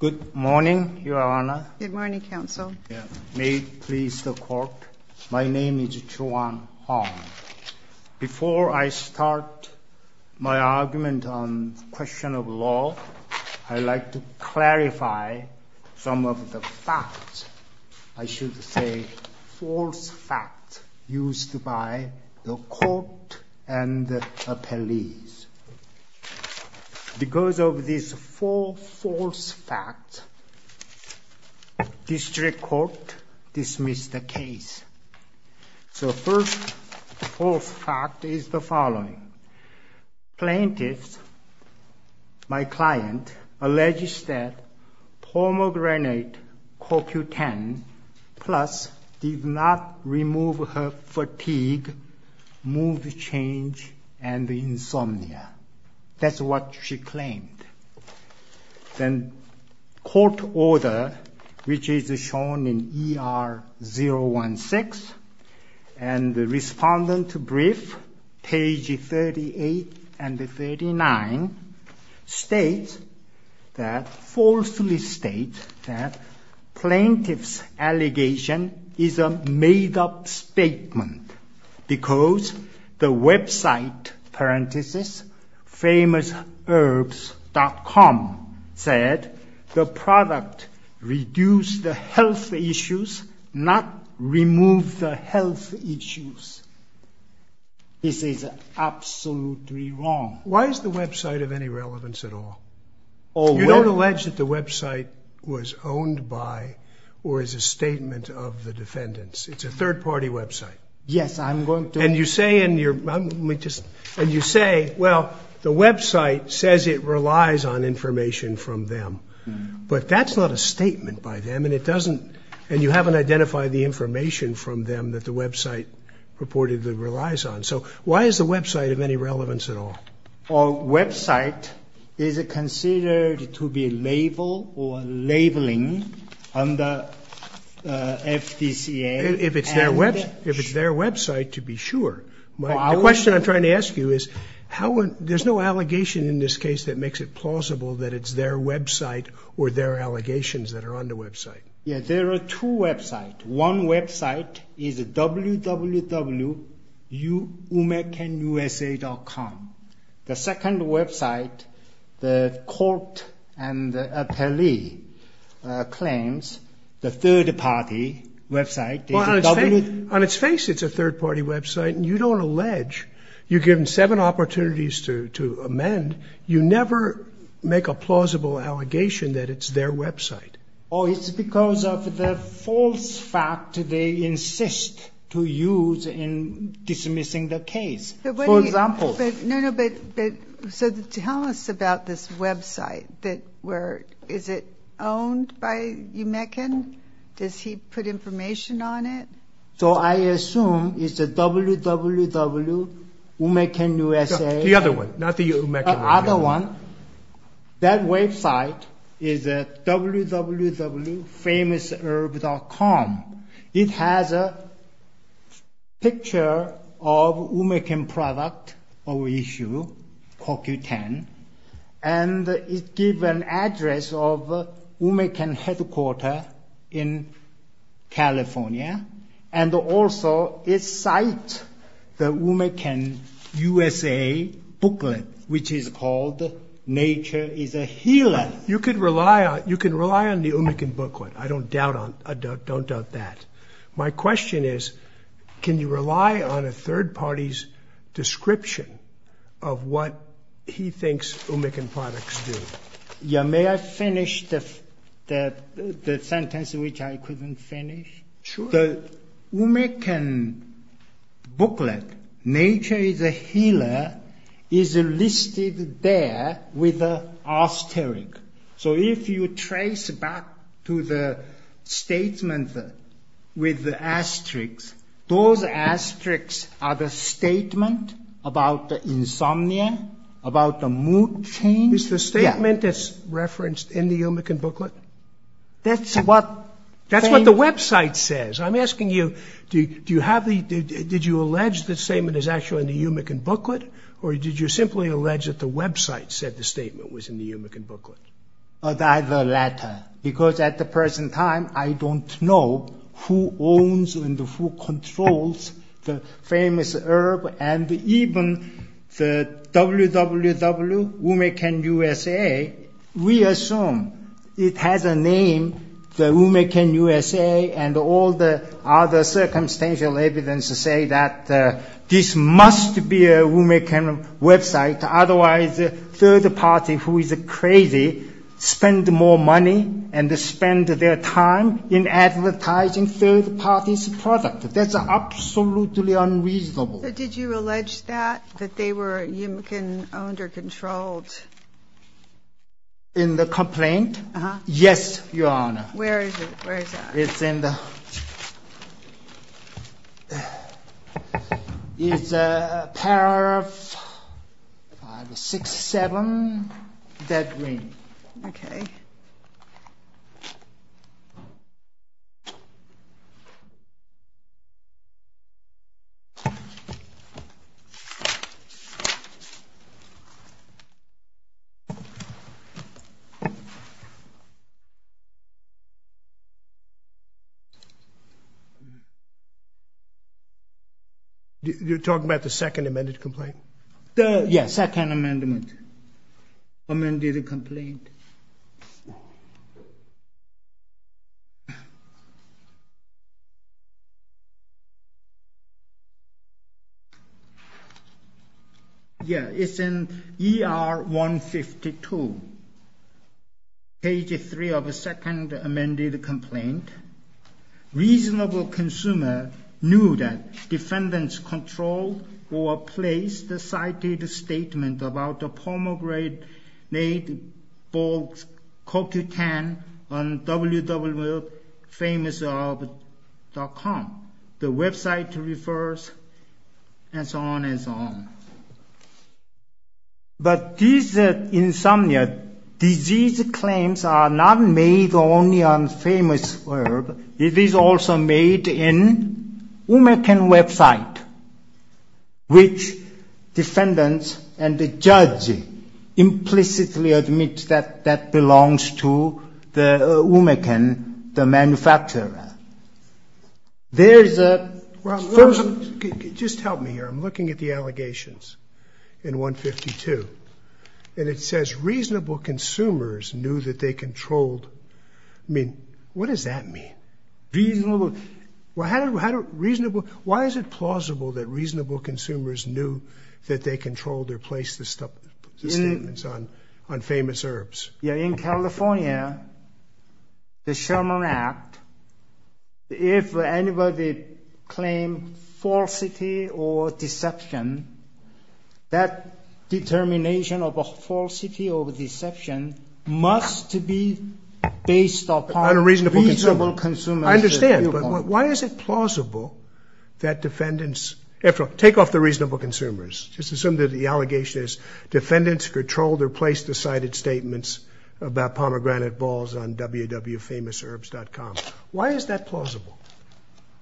Good morning, Your Honor. Good morning, Counsel. May it please the Court, my name is Chuan Hong. Before I start my argument on question of law, I'd like to clarify some of the facts, I should say false facts, used by the Court and the appellees. Because of these four false facts, District Court dismissed the case. So first false fact is the following. Plaintiffs, my client, alleged that Hormogrenate CoQ10 Plus did not remove her fatigue, mood change, and insomnia. That's what she claimed. Then court order, which is shown in ER 016, and the plaintiff's allegation is a made-up statement because the website, parenthesis, famousherbs.com, said the product reduced the health issues, not removed the health issues. This is absolutely wrong. Why is the website of any relevance at all? You don't allege that the website was owned by or is a statement of the defendants. It's a third-party website. Yes, I'm going to... And you say in your, let me just, and you say, well, the website says it relies on information from them, but that's not a statement by them and it doesn't, and you haven't identified the information from them that the website purportedly relies on. So why is the website of any relevance at all? Well, website is considered to be label or labeling under FDCA. If it's their website to be sure. The question I'm trying to ask you is how, there's no allegation in this case that makes it plausible that it's their website or their allegations that are on the The second website, the court and the appellee claims the third-party website... On its face it's a third-party website and you don't allege. You're given seven opportunities to amend. You never make a plausible allegation that it's their website. Oh, it's because of the false fact they insist to use in dismissing the case. For example... No, no, but, so tell us about this website that, where, is it owned by UMECN? Does he put information on it? So I assume it's a www.umecnusa.com The other one, not the UMECN. The other one. That website is a www.famousherb.com. It has a picture of UMECN product or issue, CoQ10, and it give an address of UMECN headquarter in California, and also it cite the UMECN USA booklet, which is called Nature is a Healer. You could rely on, you can rely on the UMECN booklet. I don't doubt on, I don't doubt that. My question is, can you rely on a third party's description of what he thinks UMECN products do? Yeah, may I finish the sentence which I couldn't finish? Sure. The UMECN booklet, Nature is a Healer, is listed there with the asterisk. So if you trace back to the statement with the asterisk, those asterisks are the statement about the insomnia, about the mood change. It's the statement that's referenced in the UMECN booklet? That's what, that's what the website says. I'm asking you, do you have the, did you allege the statement is actually in the UMECN booklet, or did you simply allege that the website said the statement was in the UMECN booklet? Of either latter, because at the present time, I don't know who owns and who controls the famous herb, and even the WWW, UMECN USA, we assume it has a name, the UMECN USA, and all the other circumstantial evidence to say that this must be a UMECN website, otherwise the third party, who is crazy, spend more money and spend their time in advertising third party's product. That's absolutely unreasonable. Did you allege that, that they were UMECN owned or controlled? In the complaint? Uh-huh. Yes, Your Honor. Where is it, where is that? It's in the, it's a pair of five, six, seven, that ring. Okay. You're talking about the second amended complaint? The, yeah, second amendment, amended complaint. Yeah, it's in ER 152, page three of the second amended complaint. Reasonable consumer knew that defendants controlled or placed the cited statement about the pomegranate-made bulk cocutane on www.famousherb.com. The website refers, and so on and so on. But these insomnia disease claims are not made only on famous herb. It is also made in UMECN website, which defendants and the judge implicitly admit that that belongs to the UMECN, the manufacturer. There's a... Well, just help me here. I'm looking at the allegations in 152, and it says reasonable consumers knew that they controlled. I mean, what does that mean? Reasonable. Well, how do reasonable... Why is it plausible that reasonable consumers knew that they controlled or placed the statements on famous herbs? Yeah, in California, the Sherman Act, if anybody claim falsity or deception, that determination of a falsity or deception must be based upon... I understand, but why is it plausible that defendants... After all, take off the reasonable consumers. Just assume that the allegation is defendants controlled or placed the cited statements about pomegranate balls on www.famousherbs.com. Why is that plausible?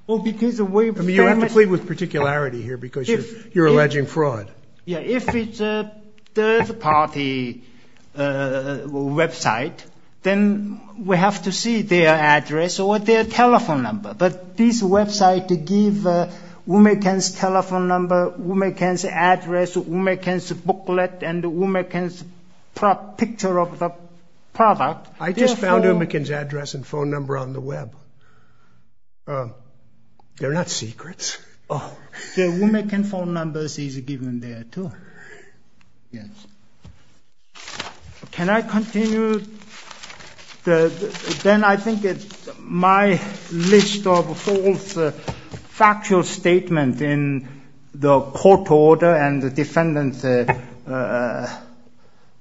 Well, because the way... I mean, you're emphatically with particularity here because you're alleging fraud. Yeah, if it's a third party website, then we have to see their address or their telephone number, but this website give UMECN's telephone number, UMECN's address, UMECN's booklet, and UMECN's picture of the product. I just found UMECN's address and phone number on the web. Oh. They're not secrets. The UMECN phone numbers is given there too. Yes. Can I continue? Then I think it's my list of false factual statement in the court order and defendant's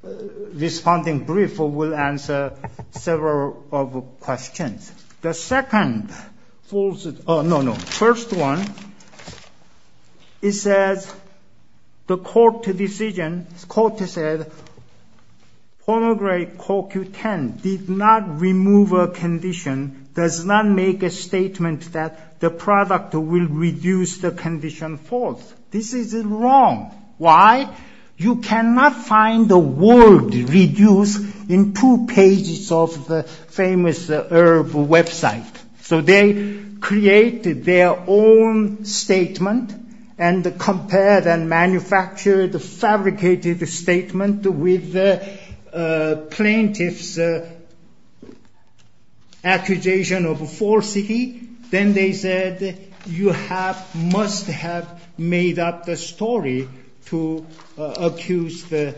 responding brief will answer several of questions. The second false... Oh, no, no. First one, it says the court decision, court said pomegranate CoQ10 did not remove a condition, does not make a statement that the product will reduce the condition false. This is wrong. Why? You cannot find the word reduce in two pages of the famous herb website. So they created their own statement and compared and manufactured the fabricated statement with plaintiff's accusation of falsity. Then they said you must have made up the story to accuse the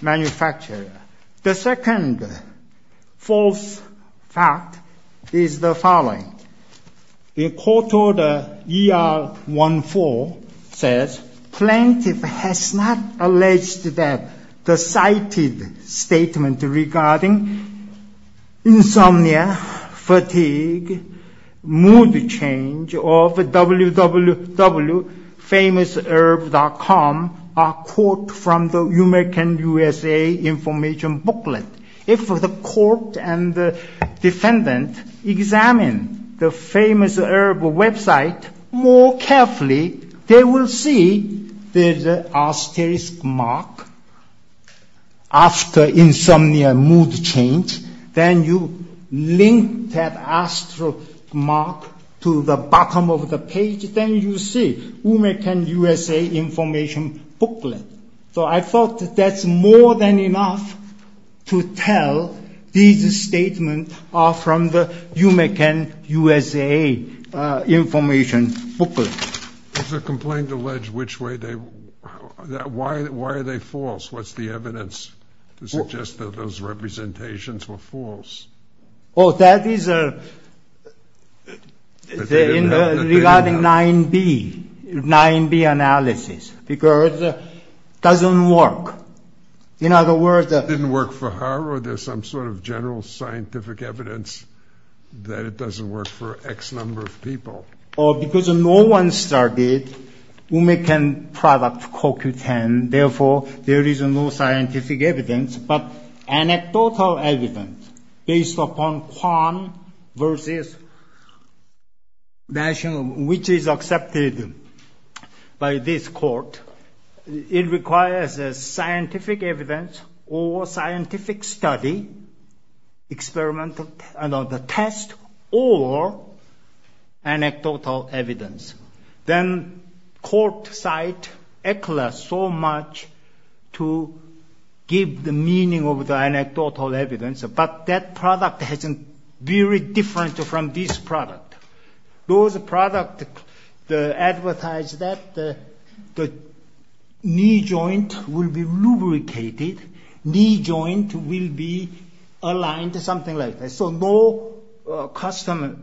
manufacturer. The second false fact is the following. The court order ER14 says plaintiff has not alleged that the cited statement regarding insomnia, fatigue, mood change of www.famousherb.com are quote from the UMECN USA information booklet. If the court and defendant examine the famous herb website more carefully, they will see there's an asterisk mark after insomnia mood change. Then you link that asterisk mark to the bottom of the page. Then you see UMECN USA information booklet. So I thought that's more than enough to tell these statements are from the UMECN USA information booklet. There's a complaint alleged which way they, why are they false? What's the evidence to suggest that those representations were false? Oh, that is regarding 9B, 9B analysis because it doesn't work. In other words, it didn't work for her or there's some sort of general scientific evidence that it doesn't work for X number of people. Oh, because no one started UMECN product cocutane. Therefore, there is no scientific evidence, but anecdotal evidence based upon versus national, which is accepted by this court. It requires a scientific evidence or scientific study, experimental test, or anecdotal evidence. Then court cite ECLA so much to give the meaning of the anecdotal evidence, but that product hasn't very different from this product. Those product advertise that the knee joint will be lubricated. Knee joint will be aligned to something like this. So no customer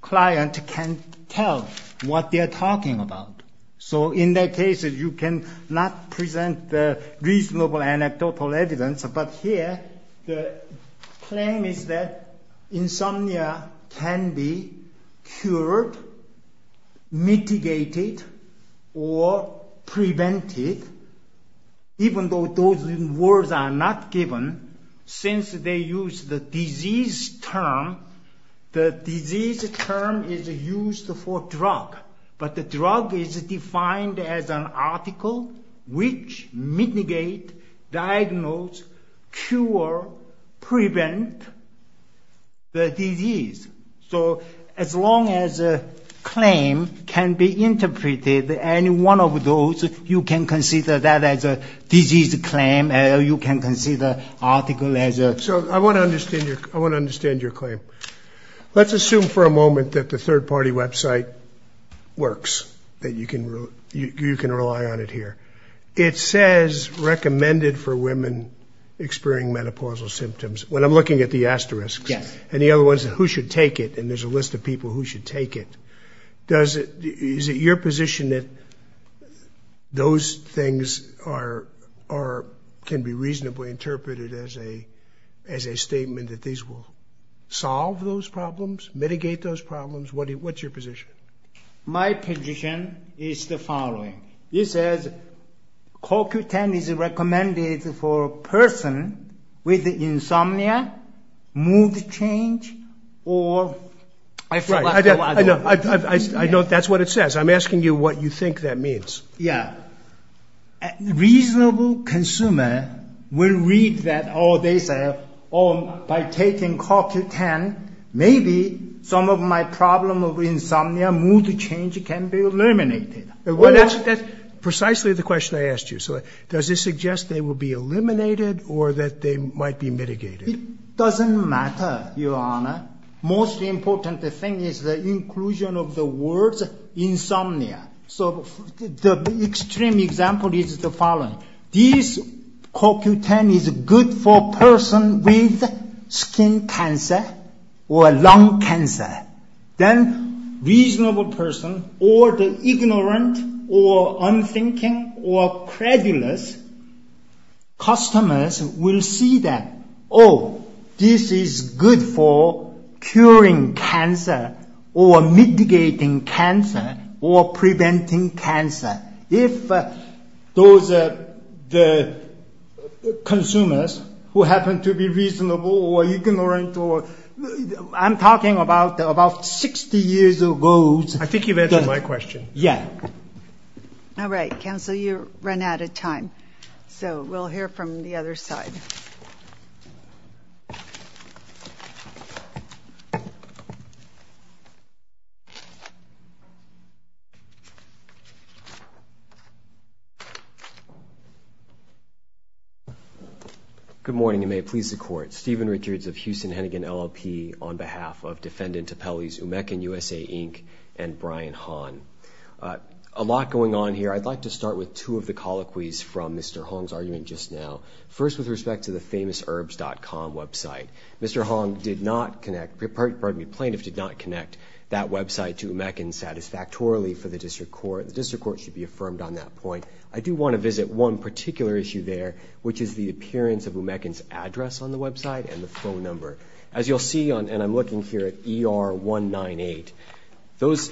client can tell what they're talking about. So in that case, you can not present the reasonable anecdotal evidence. But here, the claim is that insomnia can be cured, mitigated, or prevented. Even though those words are not given, since they use the disease term, the disease term is used for drug. But the drug is defined as an article which mitigate, diagnose, cure, prevent the disease. So as long as a claim can be interpreted, any one of those, you can consider that as a disease claim, or you can consider article as a... So I want to understand your claim. Let's assume for a moment that the third party website works, that you can rely on it here. It says recommended for women experiencing menopausal symptoms. When I'm looking at the asterisks, and the other ones, who should take it, and there's a list of people who should take it. Is it your position that those things can be reasonably interpreted as a statement that these will solve those problems, mitigate those problems? What's your position? My position is the following. It says, CoQ10 is recommended for a person with insomnia, mood change, or... I know that's what it says. I'm asking you what you think that means. Yeah. Reasonable consumer will read that, oh, they say, oh, by taking CoQ10, maybe some of my problem of insomnia, mood change can be eliminated. Precisely the question I asked you. So does this suggest they will be eliminated, or that they might be mitigated? It doesn't matter, Your Honor. Most important thing is the inclusion of the words insomnia. So the extreme example is the following. This CoQ10 is good for person with skin cancer or lung cancer. Then reasonable person, or the ignorant, or unthinking, or credulous customers will see that, oh, this is good for curing cancer, or mitigating cancer, or preventing cancer. If those are the consumers who happen to be reasonable, or ignorant, or... I'm talking about 60 years ago. I think you've answered my question. Yeah. All right. Counsel, you run out of time. So we'll hear from the other side. All right. Good morning, and may it please the Court. Stephen Richards of Houston Hennigan LLP on behalf of Defendant Topelli's Umeccan USA, Inc. and Brian Hahn. A lot going on here. I'd like to start with two of the colloquies from Mr. Hong's argument just now. First, with respect to the famousherbs.com website. Mr. Hong did not connect, pardon me, plaintiff did not connect that website to Umeccan satisfactorily for the district court. The district court should be affirmed on that point. I do want to visit one particular issue there, which is the appearance of Umeccan's address on the website and the phone number. As you'll see, and I'm looking here at ER 198,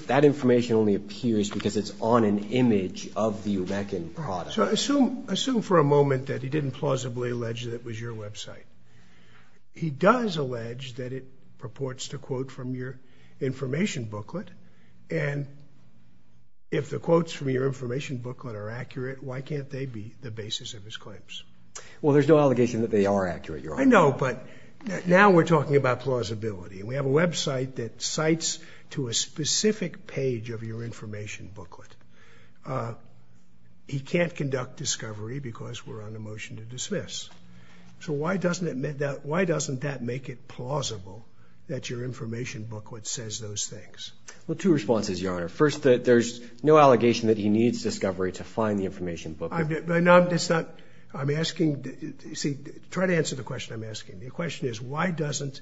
that information only appears because it's on an image of the Umeccan product. Assume for a moment that he didn't plausibly allege that it was your website. He does allege that it purports to quote from your information booklet, and if the quotes from your information booklet are accurate, why can't they be the basis of his claims? Well, there's no allegation that they are accurate, Your Honor. I know, but now we're talking about plausibility. We have a website that cites to a specific page of your information booklet. He can't conduct discovery because we're on a motion to dismiss. So why doesn't that make it plausible that your information booklet says those things? Well, two responses, Your Honor. First, there's no allegation that he needs discovery to find the information booklet. I'm asking, you see, try to answer the question I'm asking. The question is why doesn't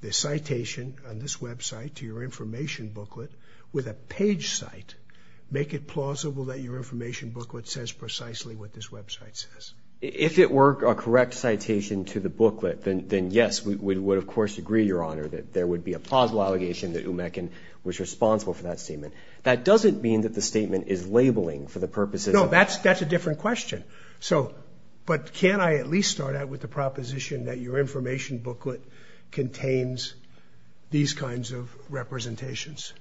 the citation on this website to your information booklet with a page site make it plausible that your information booklet says precisely what this website says? If it were a correct citation to the booklet, then yes, we would of course agree, Your Honor, that there would be a plausible allegation that Umeccan was responsible for that statement. That doesn't mean that the statement is labeling for the purposes of... No, that's a different question. So, but can I at least start out with the proposition that your information booklet contains these kinds of representations?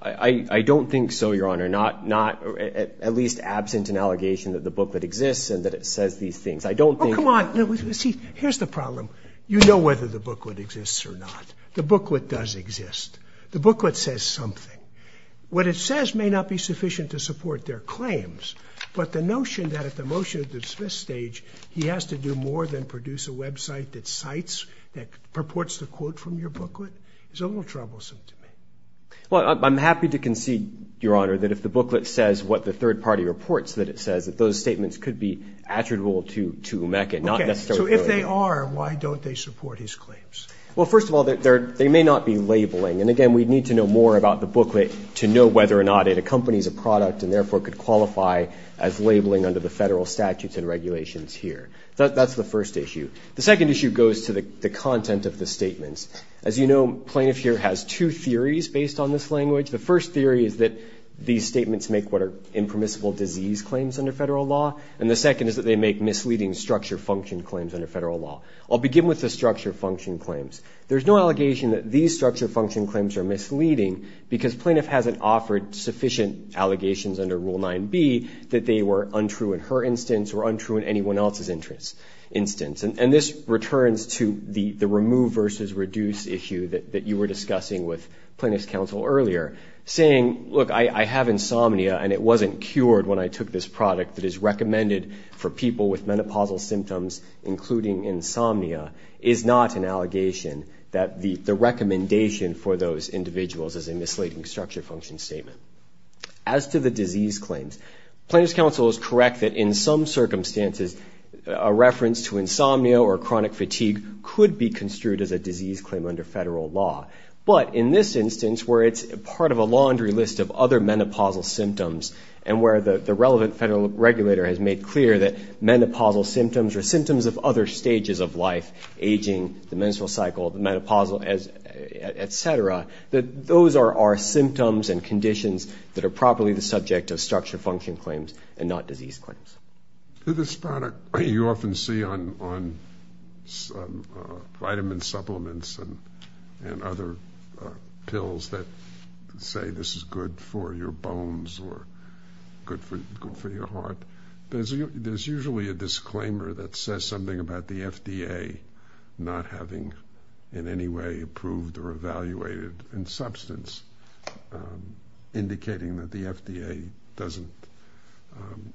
I don't think so, Your Honor. Not at least absent an allegation that the booklet exists and that it says these things. I don't think... Oh, come on. Here's the problem. You know whether the booklet exists or not. The booklet does exist. The booklet says something. What it says may not be sufficient to support their claims, but the notion that at the motion to dismiss stage, he has to do more than produce a website that cites, that purports to quote from your booklet is a little troublesome to me. Well, I'm happy to concede, Your Honor, that if the booklet says what the third party reports that it says, that those statements could be attributable to Umeccan, not necessarily... Okay, so if they are, why don't they support his claims? Well, first of all, they may not be labeling. And again, we'd need to know more about the booklet to know whether or not it accompanies a product and therefore could qualify as labeling under the federal statutes and regulations here. That's the first issue. The second issue goes to the content of the statements. As you know, plaintiff here has two theories based on this language. The first theory is that these statements make what are impermissible disease claims under federal law. And the second is that they make misleading structure function claims under federal law. I'll begin with the structure function claims. There's no allegation that these structure function claims are misleading because plaintiff hasn't offered sufficient allegations under Rule 9b that they were untrue in her instance or untrue in anyone else's instance. And this returns to the remove versus reduce issue that you were discussing with plaintiff's counsel earlier, saying, look, I have insomnia and it wasn't cured when I took this product that is recommended for people with menopausal symptoms, including insomnia, is not an allegation that the recommendation for those individuals is a misleading structure function statement. As to the disease claims, plaintiff's counsel is correct that in some circumstances, a reference to insomnia or chronic fatigue could be construed as a disease claim under federal law. But in this instance, where it's part of a laundry list of other menopausal symptoms and where the relevant federal regulator has made clear that menopausal symptoms are symptoms of other stages of life, aging, the menstrual cycle, the menopausal, et cetera, that those are our symptoms and conditions that are properly the subject of structure function claims and not you often see on vitamin supplements and other pills that say this is good for your bones or good for your heart. There's usually a disclaimer that says something about the FDA not having in any way approved or evaluated in substance, indicating that the FDA doesn't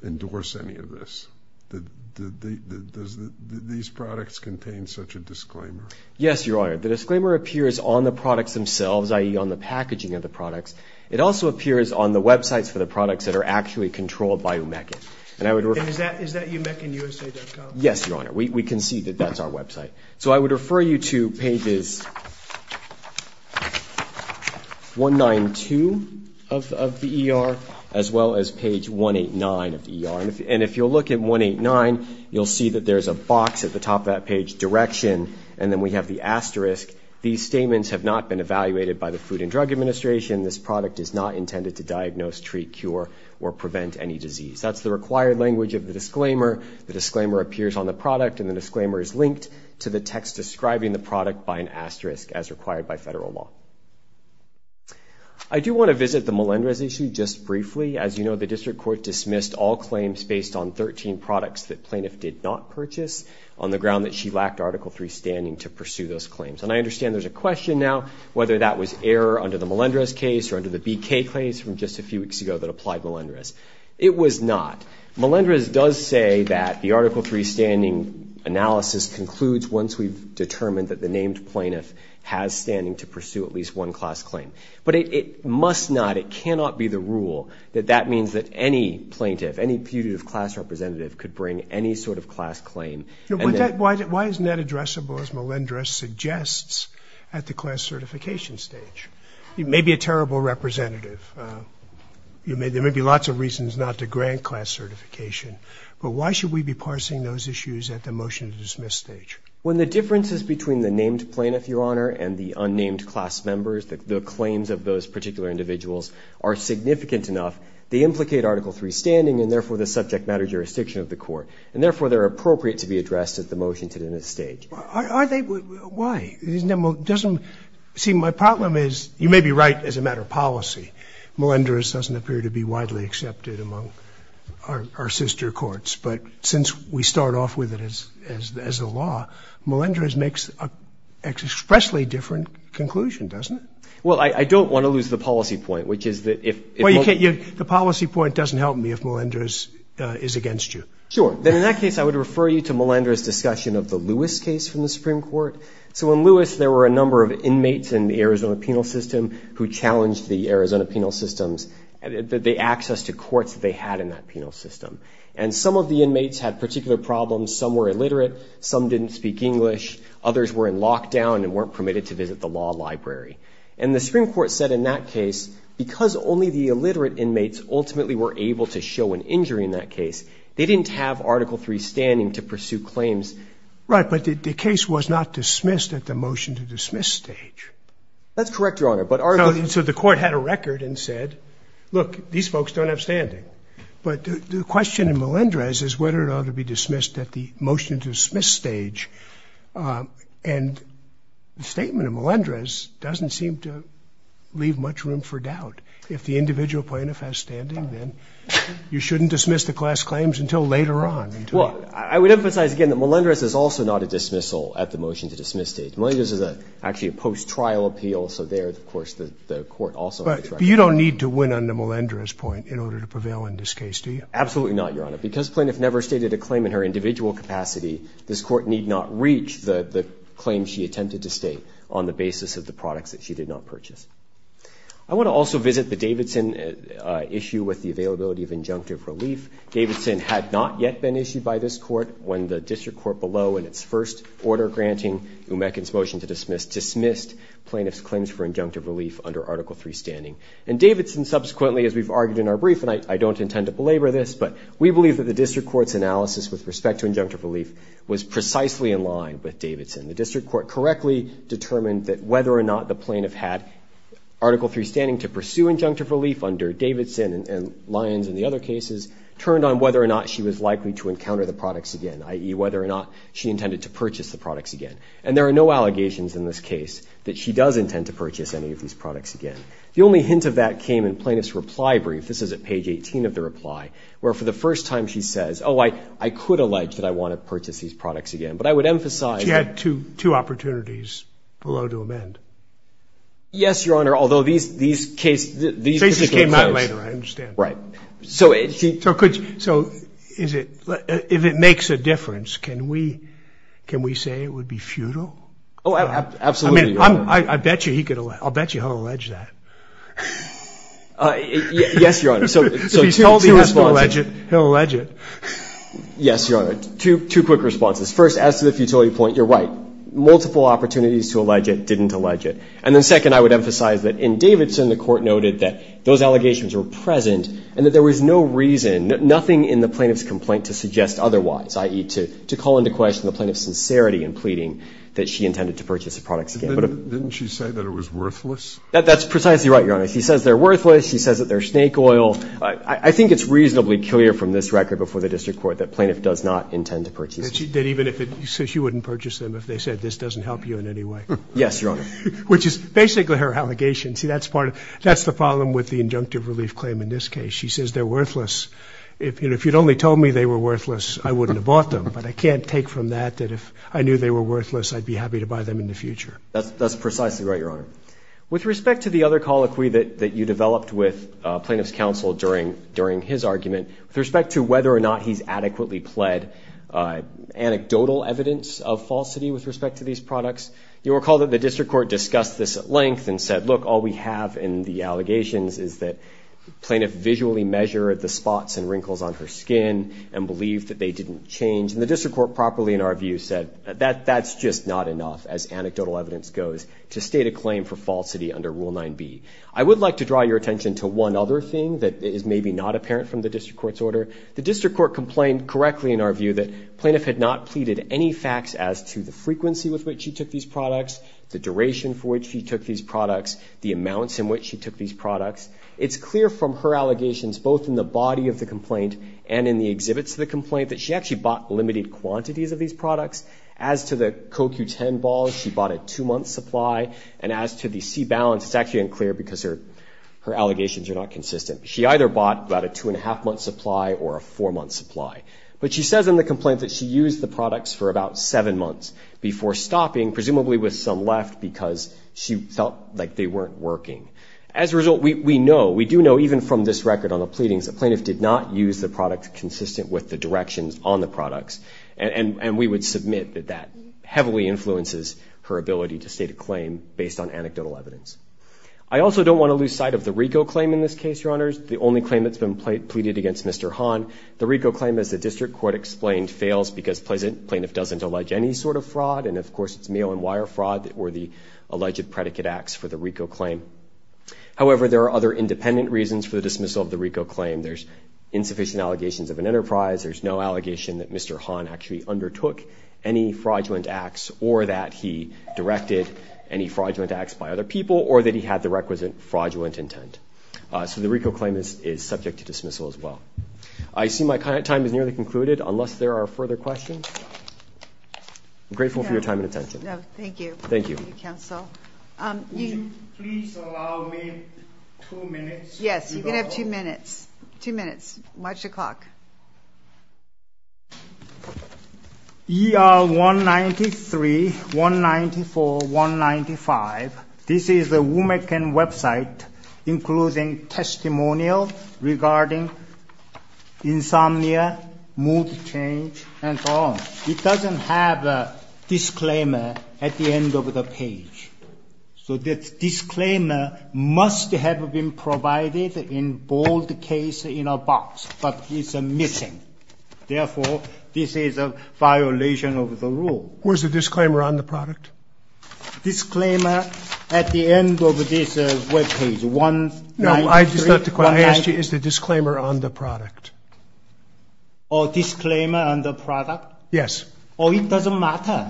endorse any of this. Does these products contain such a disclaimer? Yes, Your Honor. The disclaimer appears on the products themselves, i.e. on the packaging of the products. It also appears on the websites for the products that are actually controlled by Omeca. And I would refer... And is that omecanusa.com? Yes, Your Honor. We can see that that's our website. So I would refer you to pages 192 of the ER as well as page 189 of the ER. And if you'll look at 189, you'll see that there's a box at the top of that page, direction, and then we have the asterisk. These statements have not been evaluated by the Food and Drug Administration. This product is not intended to diagnose, treat, cure, or prevent any disease. That's the required language of the disclaimer. The disclaimer appears on the product and the disclaimer is linked to the text describing the product by an asterisk as required by federal law. I do want to visit the Melendrez issue just briefly. As you know, the District Court dismissed all claims based on 13 products that plaintiff did not purchase on the ground that she lacked Article III standing to pursue those claims. And I understand there's a question now whether that was error under the Melendrez case or under the BK case from just a few weeks ago that applied Melendrez. It was not. Melendrez does say that the Article III standing analysis concludes once we've determined that the named plaintiff has standing to pursue at least one class claim. But it must not, it cannot be the rule that that means that any plaintiff, any putative class representative could bring any sort of class claim. Why isn't that addressable as Melendrez suggests at the class certification stage? You may be a terrible representative. There may be lots of reasons not to grant class certification, but why should we be parsing those issues at the motion to dismiss stage? When the differences between the named plaintiff, Your Honor, and the unnamed class members, the claims of those particular individuals, are significant enough, they implicate Article III standing and therefore the subject matter jurisdiction of the court. And therefore, they're appropriate to be addressed at the motion to dismiss stage. Are they? Why? Doesn't, see, my problem is, you may be right as a matter of policy, Melendrez doesn't appear to be widely accepted among our sister courts. But since we start off with it as a law, Melendrez makes an expressly different conclusion, doesn't it? Well, I don't want to lose the policy point, which is that if... Well, you can't, the policy point doesn't help me if Melendrez is against you. Sure. Then in that case, I would refer you to Melendrez's discussion of the Lewis case from the Supreme Court. So in Lewis, there were a number of inmates in the Arizona penal system who challenged the Arizona penal systems, the access to courts that they had in that penal system. And some of the inmates had particular problems, some were illiterate, some didn't speak English, others were in lockdown and weren't permitted to visit the law library. And the Supreme Court said in that case, because only the illiterate inmates ultimately were able to show an injury in that case, they didn't have Article III standing to pursue claims. Right, but the case was not dismissed at the motion to dismiss stage. That's correct, Your Honor, but Article... So the court had a record and said, look, these folks don't have standing. But the question in Melendrez is whether it ought to be dismissed at the motion to dismiss stage. And the statement of Melendrez doesn't seem to leave much room for doubt. If the individual plaintiff has standing, then you shouldn't dismiss the class claims until later on. Well, I would emphasize again that Melendrez is also not a dismissal at the motion to dismiss stage. Melendrez is actually a post-trial appeal, so there, of course, the court also... But you don't need to win under Melendrez point in order to prevail in this case, do you? Absolutely not, Your Honor, because plaintiff never stated a claim in her individual capacity, this court need not reach the claim she attempted to state on the basis of the products that she did not purchase. I want to also visit the Davidson issue with the availability of injunctive relief. Davidson had not yet been issued by this court when the district court below in its first order granting Umekin's motion to dismiss dismissed plaintiff's claims for injunctive relief under Article III standing. And Davidson subsequently, as we've argued in our brief, and I don't intend to belabor this, but we believe that the district court's analysis with respect to injunctive relief was precisely in line with Davidson. The district court correctly determined that whether or not the plaintiff had Article III standing to pursue injunctive relief under Davidson and Lyons and the other cases turned on whether or not she was likely to And there are no allegations in this case that she does intend to purchase any of these products again. The only hint of that came in plaintiff's reply brief. This is at page 18 of the reply, where for the first time she says, oh, I could allege that I want to purchase these products again, but I would emphasize. She had two opportunities below to amend. Yes, Your Honor, although these cases came out later, I understand. Right. So if it makes a difference, can we say it would be futile? Oh, absolutely. I'll bet you he'll allege that. Yes, Your Honor. So he's told he has to allege it, he'll allege it. Yes, Your Honor. Two quick responses. First, as to the futility point, you're right. Multiple opportunities to allege it didn't allege it. And then second, I would emphasize that in Davidson, the Court noted that those allegations were present and that there was no reason, nothing in the plaintiff's complaint to suggest otherwise, i.e., to call into question the plaintiff's sincerity in pleading that she intended to purchase the products again. But didn't she say that it was worthless? That's precisely right, Your Honor. She says they're worthless. She says that they're snake oil. I think it's reasonably clear from this record before the district court that plaintiff does not intend to purchase them. That even if it says she wouldn't purchase them if they said this doesn't help you in any way. Yes, Your Honor. Which is basically her allegation. See, that's the problem with the injunctive relief claim in this case. She says they're worthless. If you'd only told me they were worthless, I wouldn't have bought them. But I can't take from that that if I knew they were worthless, I'd be happy to buy them in the future. That's precisely right, Your Honor. With respect to the other colloquy that you developed with plaintiff's counsel during his argument, with respect to whether or not he's adequately pled, anecdotal evidence of falsity with respect to these products, you'll recall that the district court discussed this at length and said, look, all we have in the allegations is that plaintiff visually measured the spots and wrinkles on her skin and believed that they didn't change. And the district court properly, in our view, said that that's just not enough, as anecdotal evidence goes, to state a claim for falsity under Rule 9b. I would like to draw your attention to one other thing that is maybe not apparent from the district court's order. The district court complained correctly, in our view, that plaintiff had not pleaded any facts as to the frequency with which she took these products, the duration for which she took these products, the amounts in which she took these products. It's clear from her allegations, both in the body of the complaint and in the exhibits of the complaint, that she actually bought limited quantities of these products. As to the CoQ10 balls, she bought a two-month supply. And as to the C-balance, it's actually unclear because her allegations are not consistent. She either bought about a two-and-a-half-month supply or a four-month supply. But she says in the complaint that she used the products for about seven months before stopping, presumably with some left, because she felt like they weren't working. As a result, we know, we do know even from this record on the pleadings, the plaintiff did not use the products consistent with the directions on the products. And we would submit that that heavily influences her ability to state a claim based on anecdotal evidence. I also don't want to lose sight of the RICO claim in this case, Your Honors, the only claim that's been pleaded against Mr. Hahn. The RICO claim, as the district court explained, fails because plaintiff doesn't allege any sort of fraud. And of course, it's mail-and-wire fraud that were the alleged predicate acts for the RICO claim. However, there are other independent reasons for the dismissal of the RICO claim. There's insufficient allegations of an enterprise. There's no allegation that Mr. Hahn actually undertook any fraudulent acts or that he directed any fraudulent acts by other people or that he had the requisite fraudulent intent. So the RICO claim is subject to dismissal as well. I see my time is nearly concluded unless there are further questions. I'm grateful for your time and attention. No, thank you. Thank you, counsel. Would you please allow me two minutes? Yes, you can have two minutes. Two minutes. March o'clock. ER 193, 194, 195. This is the WMEC website, including testimonial regarding insomnia, mood change, and so on. It doesn't have a disclaimer at the end of the page. So this disclaimer must have been provided in bold case in a box, but it's missing. Therefore, this is a violation of the rule. Where's the disclaimer on the product? Disclaimer at the end of this web page, 193. No, I just have to ask you, is the disclaimer on the product? Oh, disclaimer on the product? Yes. Oh, it doesn't matter.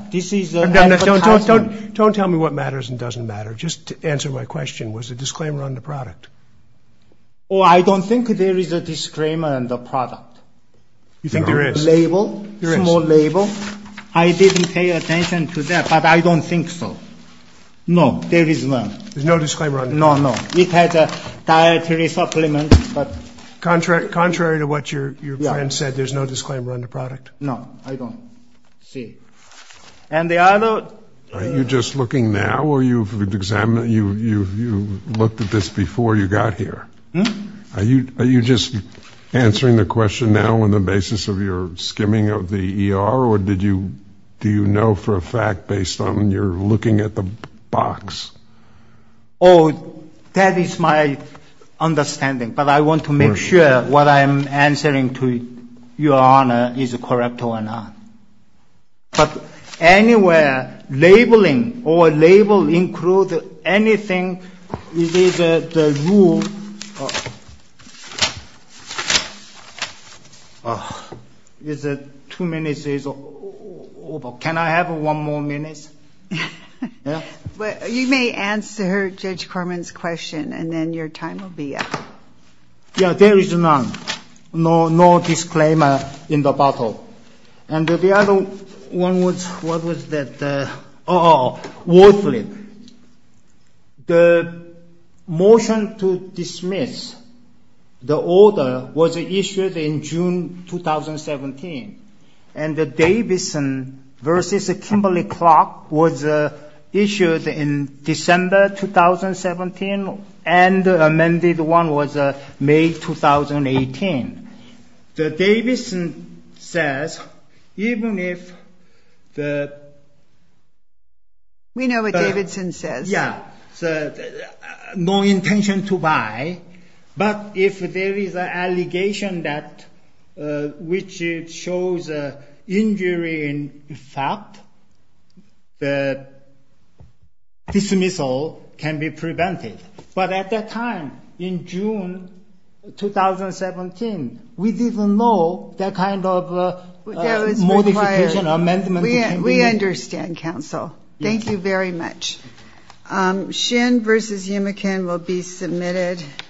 Don't tell me what matters and doesn't matter. Just to answer my question, was the disclaimer on the product? Oh, I don't think there is a disclaimer on the product. You think there is? There is a label, small label. I didn't pay attention to that, but I don't think so. No, there is one. There's no disclaimer on the product? No, no. It has a dietary supplement. Contrary to what your friend said, there's no disclaimer on the product? No, I don't see. And the other... Are you just looking now or you've examined, you've looked at this before you got here? Are you just answering the question now on the basis of your skimming of the ER or did you, do you know for a fact based on your looking at the box? Oh, that is my understanding, but I want to make sure what I'm answering to is correct or not. But anywhere labeling or label include anything, it is the rule. Is it two minutes is over. Can I have one more minute? You may answer Judge Corman's question and then your time will be up. Yeah, there is none. No, no disclaimer in the bottle. And the other one was, what was that? Wall Flip. The motion to dismiss the order was issued in June, 2017. And the Davison versus Kimberley Clark was issued in December, 2017. And the amended one was May, 2018. The Davison says, even if the... We know what Davison says. Yeah. So no intention to buy, but if there is an allegation that, which shows a injury in fact, the dismissal can be prevented. But at that time in June, 2017, we didn't know that kind of modification amendment. We understand counsel. Thank you very much. Shin versus Yumekin will be submitted.